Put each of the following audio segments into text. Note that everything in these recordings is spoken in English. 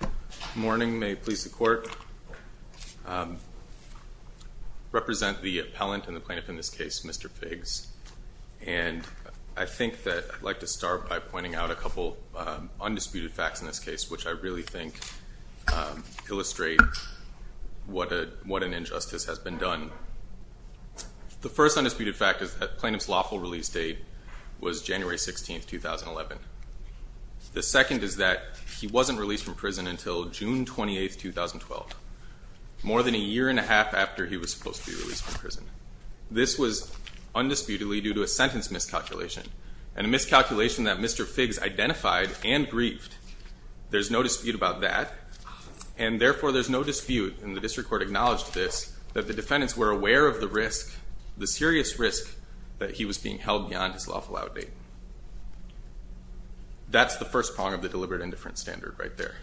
Good morning, may it please the court. I represent the appellant and the plaintiff in this case, Mr. Figgs, and I think that I'd like to start by pointing out a couple undisputed facts in this case which I really think illustrate what an injustice has been done. The first undisputed fact is that plaintiff's lawful release date was January 16th, 2011. The second is that he wasn't released from prison until June 28th, 2012, more than a year and a half after he was supposed to be released from prison. This was undisputedly due to a sentence miscalculation and a miscalculation that Mr. Figgs identified and grieved. There's no dispute about that and therefore there's no dispute, and the district court acknowledged this, that the defendants were aware of the risk, the serious risk that he was being held beyond his lawful out date. That's the first prong of the argument there.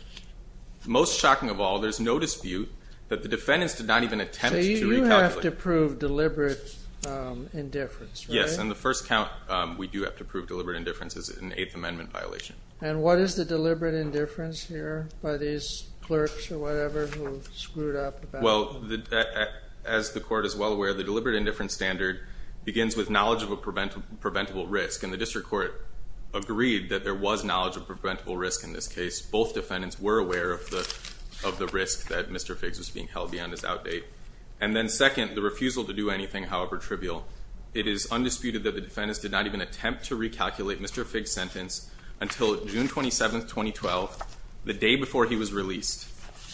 Most shocking of all, there's no dispute that the defendants did not even attempt to recalculate. You have to prove deliberate indifference, right? Yes, and the first count we do have to prove deliberate indifference is an Eighth Amendment violation. And what is the deliberate indifference here, by these clerks or whatever who screwed up the battle? Well, as the court is well aware, the deliberate indifference standard begins with knowledge of a preventable risk and the district court agreed that there was knowledge of preventable risk in this case. Both defendants were aware of the risk that Mr. Figgs was being held beyond his out date. And then second, the refusal to do anything, however trivial. It is undisputed that the defendants did not even attempt to recalculate Mr. Figgs' sentence until June 27, 2012, the day before he was released.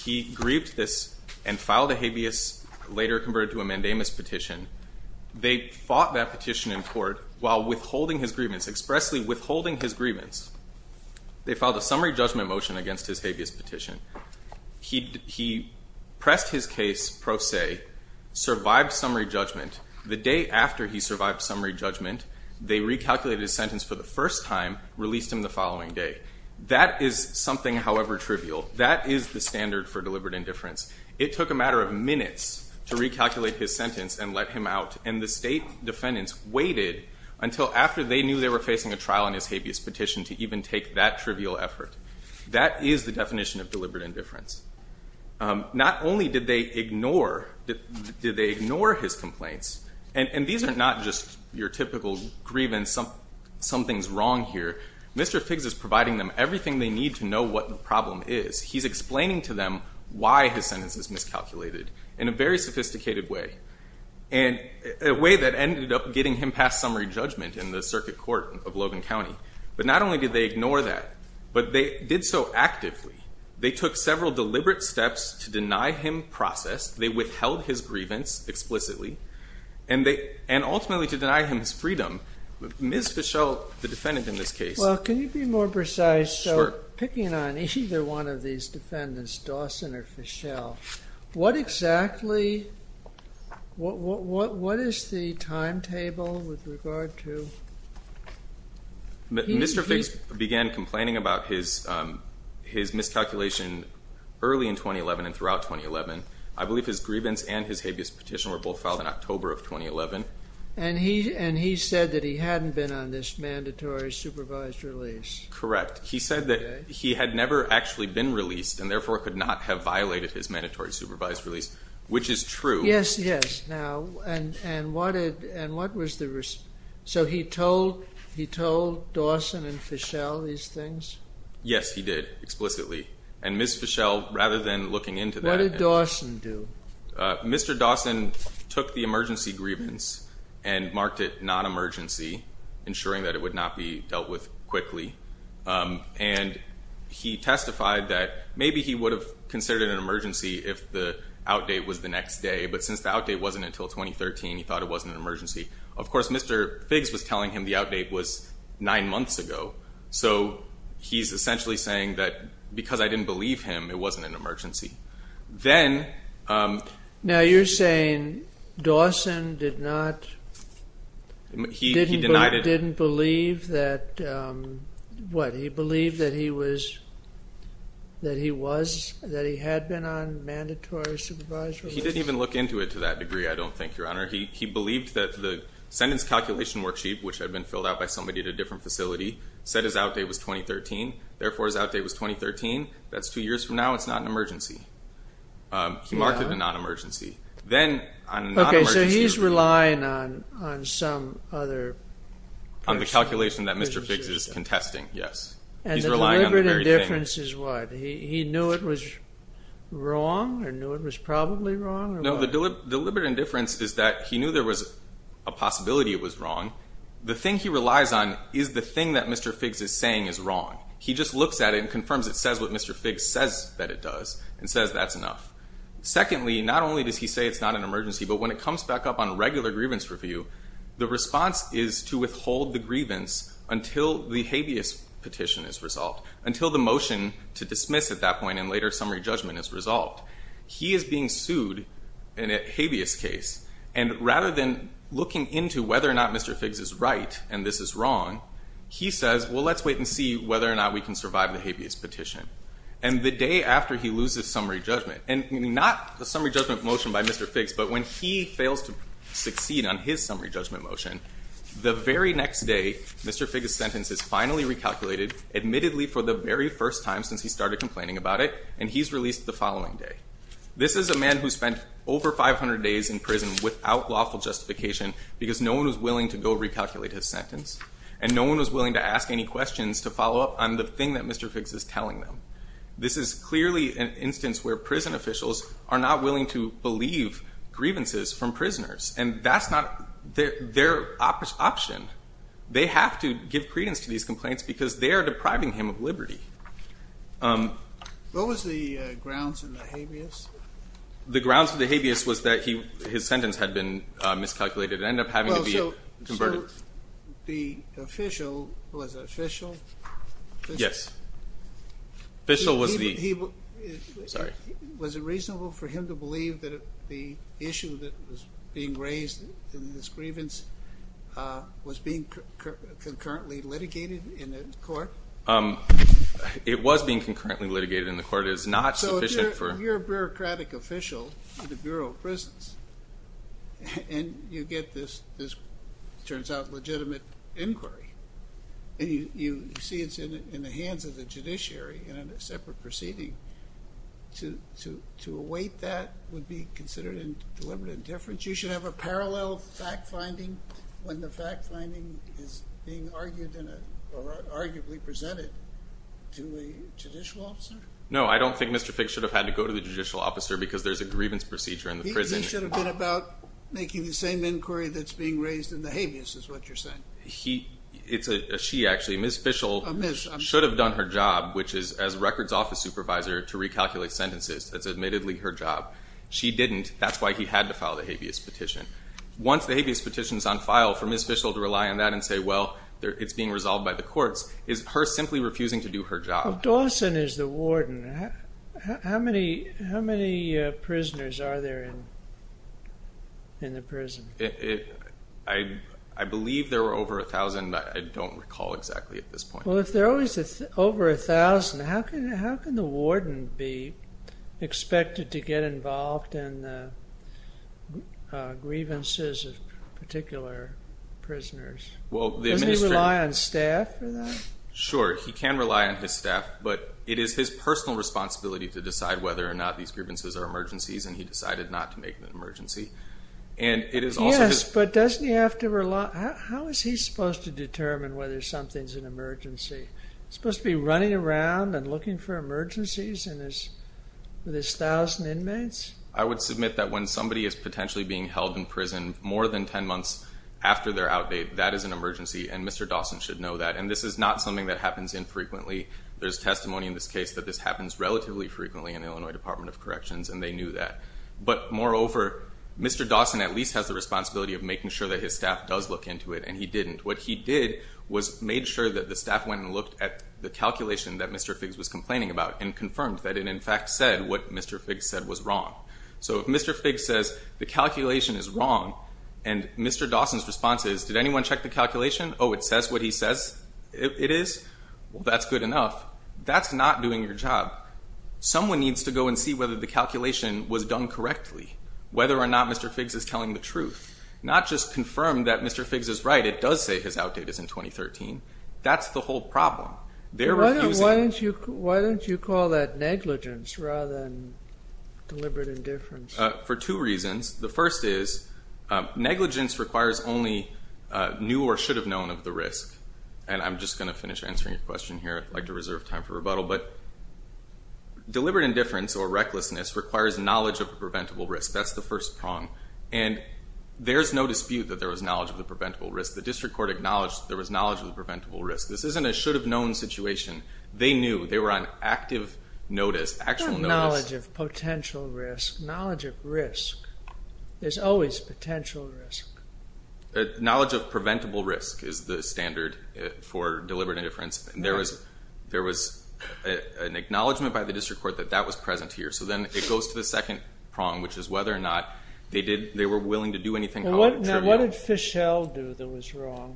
He grieved this and filed a habeas, later converted to a mandamus petition. They fought that petition in court while withholding his grievance, expressly withholding his grievance. They filed a summary judgment motion against his habeas petition. He pressed his case pro se, survived summary judgment. The day after he survived summary judgment, they recalculated his sentence for the first time, released him the following day. That is something, however trivial. That is the standard for deliberate indifference. It took a matter of minutes to recalculate his sentence and let him out, and the state defendants waited until after they knew they were facing a trial in his habeas petition to even take that trivial effort. That is the definition of deliberate indifference. Not only did they ignore his complaints, and these are not just your typical grievance, something's wrong here. Mr. Figgs is providing them with everything they need to know what the problem is. He's explaining to them why his sentence is miscalculated in a very sophisticated way, a way that ended up getting him past summary judgment in the circuit court of Logan County. But not only did they ignore that, but they did so actively. They took several deliberate steps to deny him process. They withheld his grievance explicitly, and ultimately to deny him his freedom. Ms. Fischel, the defendant in this case... Well, can you be more precise? Sure. Picking on either one of these defendants, Dawson or Fischel, what exactly, what is the timetable with regard to... Mr. Figgs began complaining about his miscalculation early in 2011 and throughout 2011. I believe his grievance and his habeas petition were both filed in October of 2011. And he said that he hadn't been on this mandatory supervised release. Correct. He said that he had never actually been released and therefore could not have violated his mandatory supervised release, which is true. Yes, yes. Now, and what was the... So he told Dawson and Fischel these things? Yes, he did, explicitly. And Ms. Fischel, rather than looking into that... What did Dawson do? Mr. Dawson took the emergency grievance and marked it non-emergency, ensuring that it would not be dealt with quickly. And he testified that maybe he would have considered it an emergency if the outdate was the next day. But since the outdate wasn't until 2013, he thought it wasn't an emergency. Of course, Mr. Figgs was telling him the outdate was nine months ago. So he's essentially saying that because I didn't believe him, it wasn't an emergency. Then... Now, you're saying Dawson did not... He didn't believe that... What? He believed that he was... That he was... He didn't even look into it to that degree, I don't think, Your Honor. He believed that the sentence calculation worksheet, which had been filled out by somebody at a different facility, said his outdate was 2013. Therefore, his outdate was 2013. That's two years from now. It's not an emergency. He marked it a non-emergency. Then... Okay, so he's relying on some other... On the calculation that Mr. Figgs is contesting, yes. And the deliberate indifference is what? He knew it was wrong, or knew it was probably wrong, or what? No, the deliberate indifference is that he knew there was a possibility it was wrong. The thing he relies on is the thing that Mr. Figgs is saying is wrong. He just looks at it and confirms it says what Mr. Figgs says that it does, and says that's enough. Secondly, not only does he say it's not an emergency, but when it comes back up on a regular grievance review, the response is to withhold the grievance until the habeas petition is resolved. Until the motion to dismiss at that point and later summary judgment is resolved. He is being sued in a habeas case, and rather than looking into whether or not Mr. Figgs is right and this is wrong, he says, well, let's wait and see whether or not we can survive the habeas petition. And the day after he loses summary judgment, and not the summary judgment motion by Mr. Figgs, but when he fails to succeed on his summary judgment motion, the very next day Mr. Figgs' sentence is finally recalculated, admittedly for the very first time since he started complaining about it, and he's released the following day. This is a man who spent over 500 days in prison without lawful justification, because no one was willing to listen. This is clearly an instance where prison officials are not willing to believe grievances from prisoners, and that's not their option. They have to give credence to these complaints because they are depriving him of liberty. What was the grounds of the habeas? The grounds of the habeas was that his sentence had been miscalculated and ended up having to be Yes. Official was the Was it reasonable for him to believe that the issue that was being raised in this grievance was being concurrently litigated in the court? It was being concurrently litigated in the court. It is not sufficient for So if you're a bureaucratic official in the Bureau of Prisons and you get this, it turns out, legitimate inquiry and you see it's in the hands of the judiciary in a separate proceeding, to await that would be considered a deliberate indifference. You should have a parallel fact finding when the fact finding is being argued or arguably presented to a judicial officer? No, I don't think Mr. Fick should have had to go to the judicial officer because there's a grievance procedure in the prison He should have been about making the same inquiry that's being raised in the habeas It's a she actually. Ms. Fischel should have done her job, which is as records office supervisor, to recalculate sentences That's admittedly her job. She didn't. That's why he had to file the habeas petition Once the habeas petition is on file, for Ms. Fischel to rely on that and say well, it's being resolved by the courts, is her simply refusing to do her job Dawson is the warden. How many prisoners are there in the prison? I believe there were over a thousand I don't recall exactly at this point. Well, if there are always over a thousand how can the warden be expected to get involved in the grievances of particular prisoners? Doesn't he rely on staff for that? Sure, he can rely on his staff, but it is his personal responsibility to decide whether or not these grievances are emergencies and he decided not to make an emergency. Yes, but doesn't he have to rely how is he supposed to determine whether something's an emergency? Supposed to be running around and looking for emergencies with his thousand inmates? I would submit that when somebody is potentially being held in prison more than ten months after their outbate, that is an emergency and Mr. Dawson should know that. And this is not something that happens infrequently There's testimony in this case that this happens relatively frequently in the Illinois Department of Corrections and they knew that. But moreover, Mr. Dawson at least has the responsibility of making sure that his staff does look into it and he didn't. What he did was made sure that the staff went and looked at the calculation that Mr. Figgs was complaining about and confirmed that it in fact said what Mr. Figgs said was wrong. So if Mr. Figgs says the calculation is wrong and Mr. Dawson's response is, did anyone check the calculation? Oh, it says what he says it is? Well, that's good enough. That's not doing your job. Someone needs to go and see whether the calculation was done correctly. Whether or not Mr. Figgs is telling the truth. Not just confirm that Mr. Figgs is right, it does say his outdate is in 2013. That's the whole problem. Why don't you call that negligence rather than deliberate indifference? For two reasons. The first is, negligence requires only new or should have known of the risk. And I'm just going to finish answering your question here. I'd like to reserve time for rebuttal, but deliberate indifference or recklessness requires knowledge of the preventable risk. That's the first prong. And there's no dispute that there was knowledge of the preventable risk. The district court acknowledged there was knowledge of the preventable risk. This isn't a should have known situation. They knew. They were on active notice, actual notice. Not knowledge of potential risk. Knowledge of risk. There's always potential risk. Knowledge of preventable risk is the standard for deliberate indifference. There was an acknowledgment by the district court that that was present here. So then it goes to the second prong, which is whether or not they were willing to do anything. What did Fischel do that was wrong?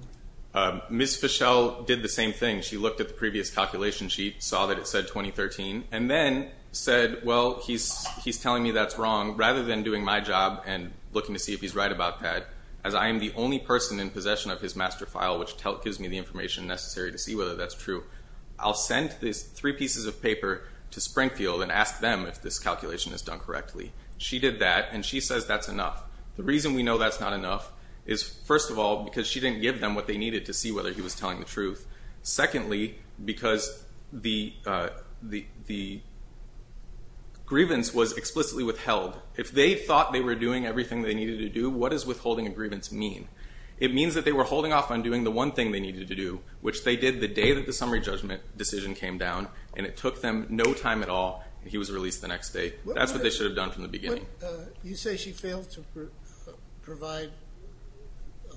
Ms. Fischel did the same thing. She looked at the previous calculation sheet, saw that it said 2013, and then said, well, he's telling me that's wrong. Rather than doing my job and looking to see if he's right about that, as I am the only person in the information necessary to see whether that's true, I'll send these three pieces of paper to Springfield and ask them if this calculation is done correctly. She did that, and she says that's enough. The reason we know that's not enough is, first of all, because she didn't give them what they needed to see whether he was telling the truth. Secondly, because the grievance was explicitly withheld. If they thought they were doing everything they needed to do, what does withholding a grievance mean? It means that they were holding off on doing the one thing they needed to do, which they did the day that the summary judgment decision came down, and it took them no time at all, and he was released the next day. That's what they should have done from the beginning. You say she failed to provide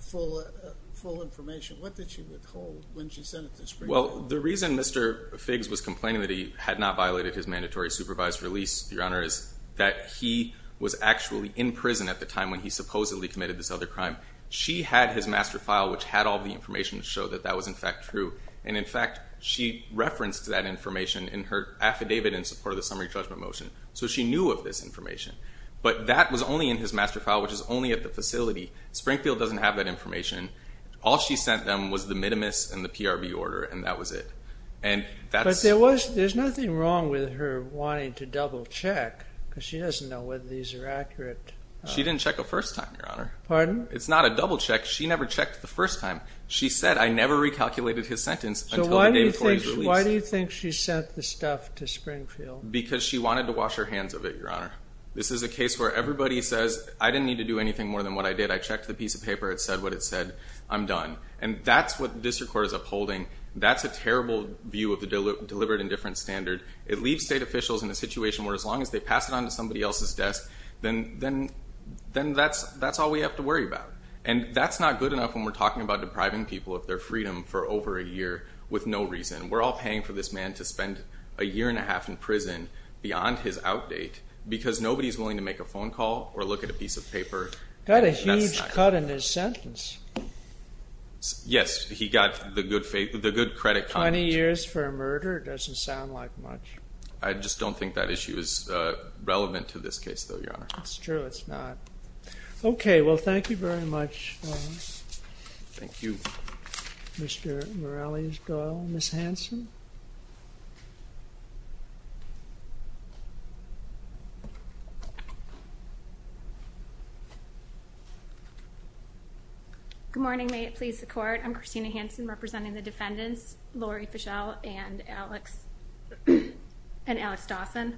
full information. What did she withhold when she sent it to Springfield? Well, the reason Mr. Figgs was complaining that he had not violated his mandatory supervised release, Your Honor, is that he was actually in prison at the time when he supposedly committed this other crime. She had his master file, which had all the information to show that that was in fact true, and in fact, she referenced that information in her affidavit in support of the summary judgment motion, so she knew of this information. But that was only in his master file, which is only at the facility. Springfield doesn't have that information. All she sent them was the minimus and the PRB order, and that was it. But there's nothing wrong with her wanting to double check, because she doesn't know whether these are accurate. She didn't check a first time, Your Honor. Pardon? It's not a double check. She never checked the first time. She said, I never recalculated his sentence until the day before he was released. So why do you think she sent the stuff to Springfield? Because she wanted to wash her hands of it, Your Honor. This is a case where everybody says, I didn't need to do anything more than what I did. I checked the piece of paper. It said what it said. I'm done. And that's what the district court is upholding. That's a terrible view of the deliberate indifference standard. It leaves state officials in a situation where as long as they pass it on to somebody else's desk, then that's all we have to worry about. And that's not good enough when we're talking about depriving people of their freedom for over a year with no reason. We're all paying for this man to spend a year and a half in prison beyond his out date, because nobody's willing to make a phone call or look at a piece of paper. Got a huge cut in his sentence. Yes, he got the good credit. 20 years for a murder doesn't sound like much. I just don't think that issue is relevant to this case though, Your Honor. It's true. It's not. Okay. Well, thank you very much. Thank you. Mr. Morales-Doyle. Ms. Hanson. Good morning. May it please the court. I'm Christina Hanson representing the defendants, Lori Fischel and Alex Dawson.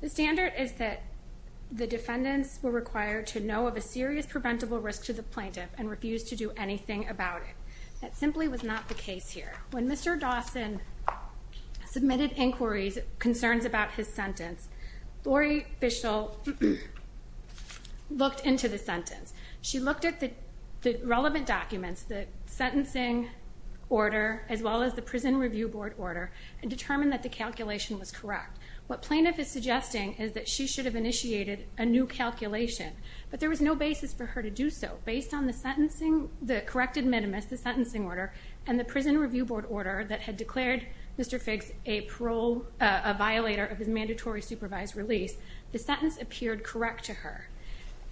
The standard is that the defendants were required to know of a serious preventable risk to the plaintiff and refused to do anything about it. That simply was not the case here. When Mr. Dawson submitted inquiries concerns about his sentence, Lori Fischel looked into the sentence. She looked at the sentencing order as well as the prison review board order and determined that the calculation was correct. What plaintiff is suggesting is that she should have initiated a new calculation, but there was no basis for her to do so. Based on the corrected minimus, the sentencing order and the prison review board order that had declared Mr. Figg's a violator of his mandatory supervised release, the sentence appeared correct to her.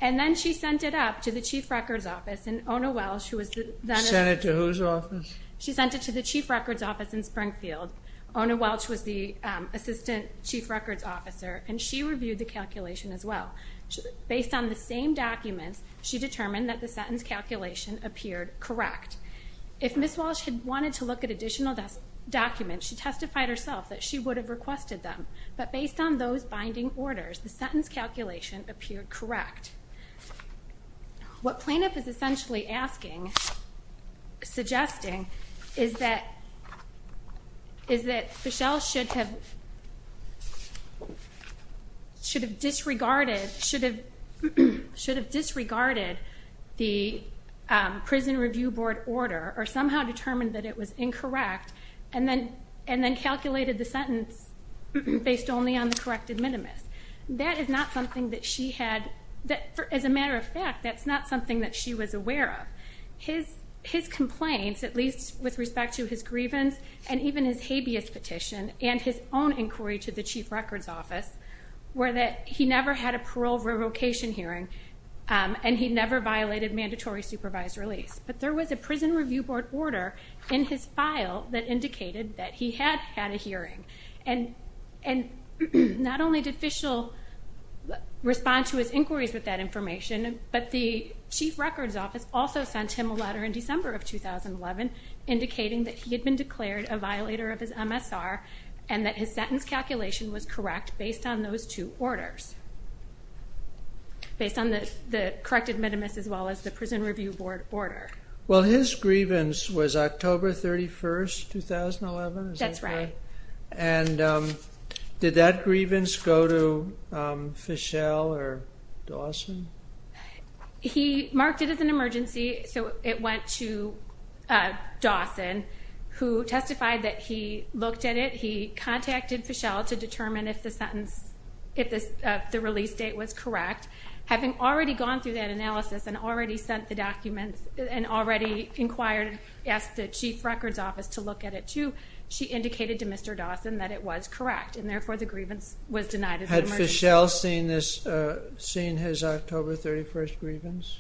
And then she sent it up to the chief records office and Ona Welch, who was the... Sent it to whose office? She sent it to the chief records office in Springfield. Ona Welch was the assistant chief records officer and she reviewed the calculation as well. Based on the same documents, she determined that the sentence calculation appeared correct. If Ms. Welch had wanted to look at additional documents, she testified herself that she would have requested them, but based on those binding orders, the sentence calculation appeared correct. What plaintiff is essentially asking suggesting is that Fischel should have disregarded the prison review board order or somehow determined that it was incorrect and then calculated the sentence based only on the corrected minimus. That is not something that she had... As a matter of fact, that's not something that she was aware of. His complaints, at least with respect to his grievance and even his habeas petition and his own inquiry to the chief records office, were that he never had a parole revocation hearing and he never violated mandatory supervised release. But there was a prison review board order in his file that indicated that he had had a hearing. And not only did Fischel respond to his inquiries with that information, but the chief records office also sent him a letter in December of 2011 indicating that he had been declared a violator of his MSR and that his sentence calculation was correct based on those two orders. Based on the corrected minimus as well as the prison review board order. Well his grievance was October 31, 2011? That's right. And did that grievance go to Fischel or Dawson? He marked it as an emergency, so it went to Dawson, who testified that he looked at it he contacted Fischel to determine if the sentence, if the release date was correct. Having already gone through that analysis and already sent the documents and already inquired, asked the chief records office to look at it too, she indicated to Mr. Dawson that it was correct and therefore the grievance was denied as an emergency. Had Fischel seen his October 31st grievance?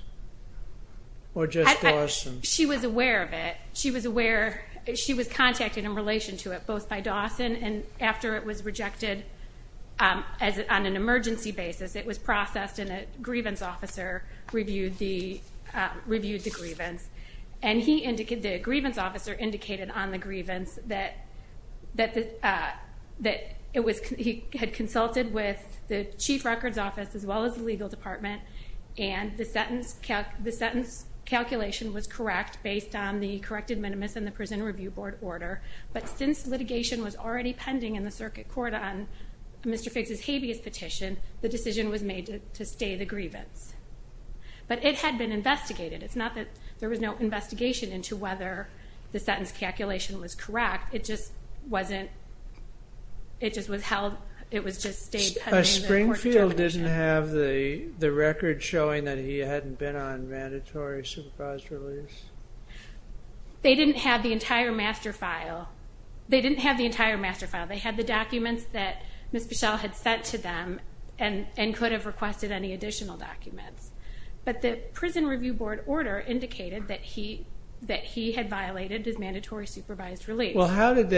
Or just Dawson? She was aware of it. She was aware, she was contacted in relation to it, both by Dawson and after it was rejected on an emergency basis, it was processed and a grievance officer reviewed the grievance. And the grievance officer indicated on the grievance that he had consulted with the chief records office as well as the legal department and the sentence calculation was correct based on the corrected minimus and the prison review board order. But since litigation was already pending in the circuit court on Mr. Fischel's habeas petition the decision was made to stay the grievance. But it had been investigated. It's not that there was no investigation into whether the sentence calculation was correct, it just wasn't it just was held, it was just stayed pending. Springfield didn't have the record showing that he hadn't been on mandatory supervised release? They didn't have the entire master file. They didn't have the entire master file. They had the documents that Ms. Fischel had sent to them and could have requested any additional documents. But the prison review board order indicated that he had violated his mandatory supervised release. Well how did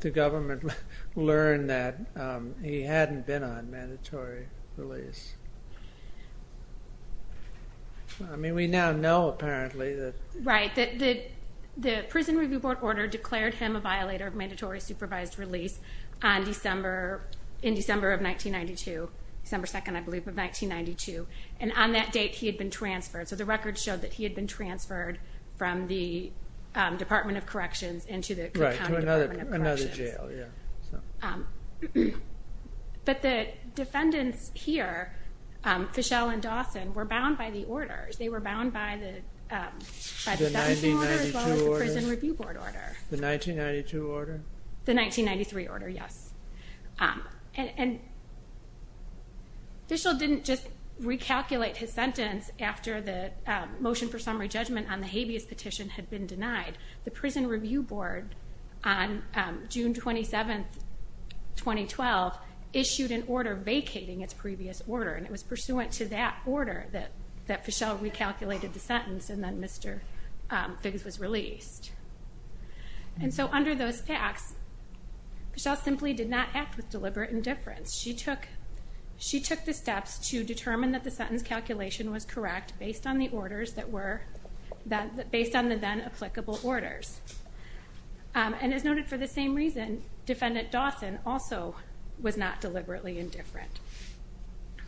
the government learn that he hadn't been on mandatory release? I mean we now know apparently that... Right. The prison review board order declared him a violator of mandatory supervised release on December, in December of 1992 December 2nd I believe of 1992. And on that date he had been transferred so the record showed that he had been transferred from the Department of Corrections into the County Department of Corrections. Right, to another jail. But the defendants here Fischel and Dawson were bound by the orders. They were bound by the sentencing order as well as the prison review board order. The 1992 order? The 1993 order, yes. And Fischel didn't just recalculate his sentence after the motion for summary judgment on the habeas petition had been denied. The prison review board on June 27th, 2012 issued an order vacating its previous order and it was pursuant to that order that Fischel recalculated the sentence and then Mr. Figgis was released. And so under those facts Fischel simply did not act with deliberate indifference. She took the steps to determine that the sentence calculation was correct based on the orders that were, based on the then applicable orders. And as noted for the same reason, defendant Dawson also was not deliberately indifferent.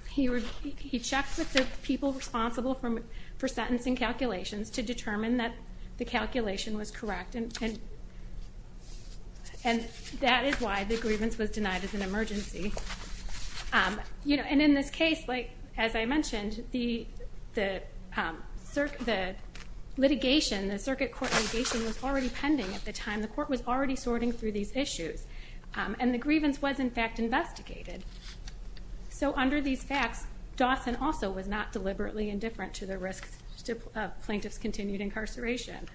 He checked with the people responsible for sentencing calculations to determine that the calculation was correct and that is why the grievance was denied as an emergency. And in this case, as I mentioned, the litigation, the circuit court litigation was already pending at the time. The court was already sorting through these issues. And the grievance was in fact investigated. So under these facts, Dawson also was not deliberately indifferent to the risks of plaintiff's continued incarceration.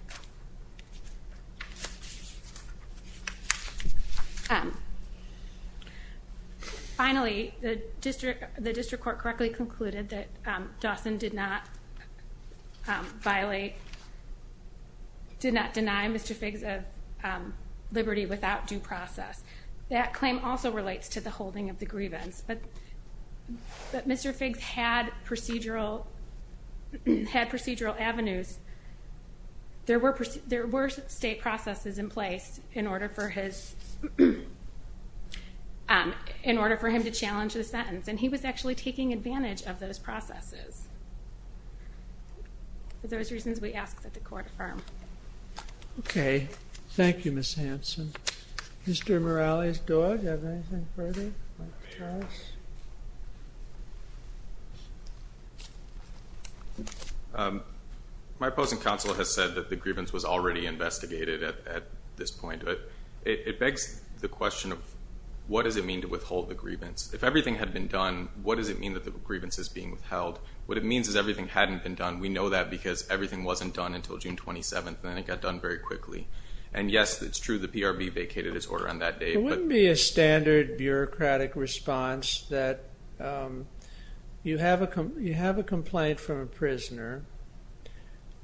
Finally, the district court correctly concluded that Dawson did not violate, did not deny Mr. Figgis liberty without due process. That claim also relates to the holding of the grievance. But Mr. Figgis had procedural avenues there were state processes in place in order for his in order for him to challenge the sentence. And he was actually taking advantage of those processes. For those reasons we ask that the court affirm. Okay, thank you Ms. Hanson. Mr. Morales-Doyle, do you have anything further? My opposing council has said that the grievance was already investigated at this point. It begs the question of what does it mean to withhold the grievance? If everything had been done, what does it mean that the grievance is being withheld? What it means is everything hadn't been done. We know that because everything wasn't done until June 27th and it got done very quickly. And yes, it's true the PRB vacated his order on that day. It wouldn't be a standard bureaucratic response that you have a complaint from a prisoner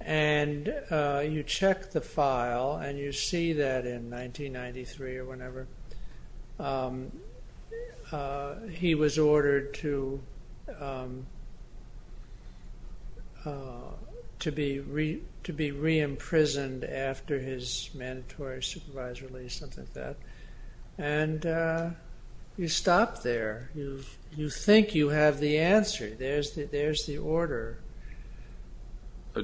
and you check the file and you see that in 1993 or whenever he was ordered to be re-imprisoned after his mandatory supervised release, something like that. You stop there. You think you have the answer. There's the order.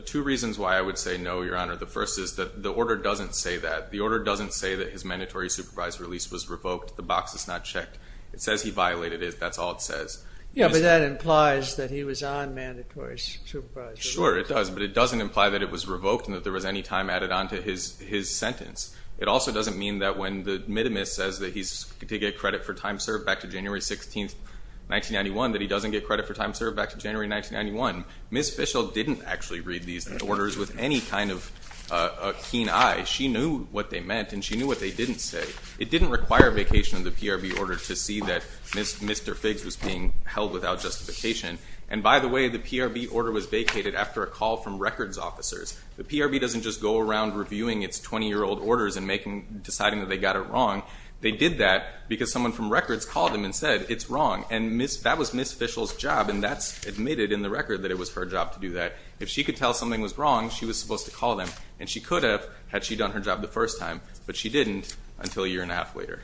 Two reasons why I would say no, Your Honor. The first is that the order doesn't say that. The order doesn't say that his mandatory supervised release was revoked. The box is not checked. It says he violated it. That's all it says. Yeah, but that implies that he was on mandatory supervised release. Sure it does, but it doesn't imply that it was revoked and that there was any time added on to his sentence. It also doesn't mean that when the mitimus says that he's to get credit for time served back to January 16th 1991 that he doesn't get credit for time served back to January 1991. Ms. Fishel didn't actually read these orders with any kind of keen eye. She knew what they meant and she knew what they didn't say. It didn't require vacation of the PRB order to see that Mr. Figgs was being held without justification. And by the way, the PRB order was vacated after a call from Ms. Fishel. So when prosecutors go around reviewing its 20 year old orders and deciding that they got it wrong, they did that because someone from records called them and said it's wrong. And that was Ms. Fishel's job and that's admitted in the record that it was her job to do that. If she could tell something was wrong, she was supposed to call them. And she could have had she done her job the first time, but she didn't until a year and a half later.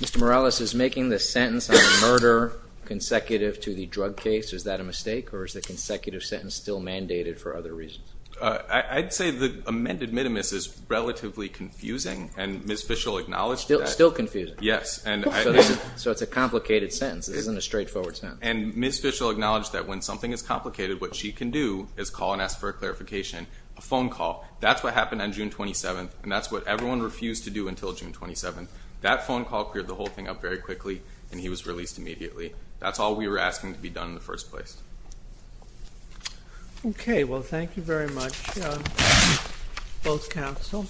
Mr. Morales, is making the sentence on murder consecutive to the drug case, is that a mistake? Or is the consecutive sentence still mandated for other reasons? I'd say the amended minimus is relatively confusing and Ms. Fishel acknowledged that. Still confusing? Yes. So it's a complicated sentence. It isn't a straightforward sentence. And Ms. Fishel acknowledged that when something is complicated, what she can do is call and ask for a clarification, a phone call. That's what happened on June 27th and that's what everyone refused to do until June 27th. That phone call cleared the whole thing up very quickly and he was released immediately. That's all we were asking to be done in the first place. Okay, well thank you very much both counsel.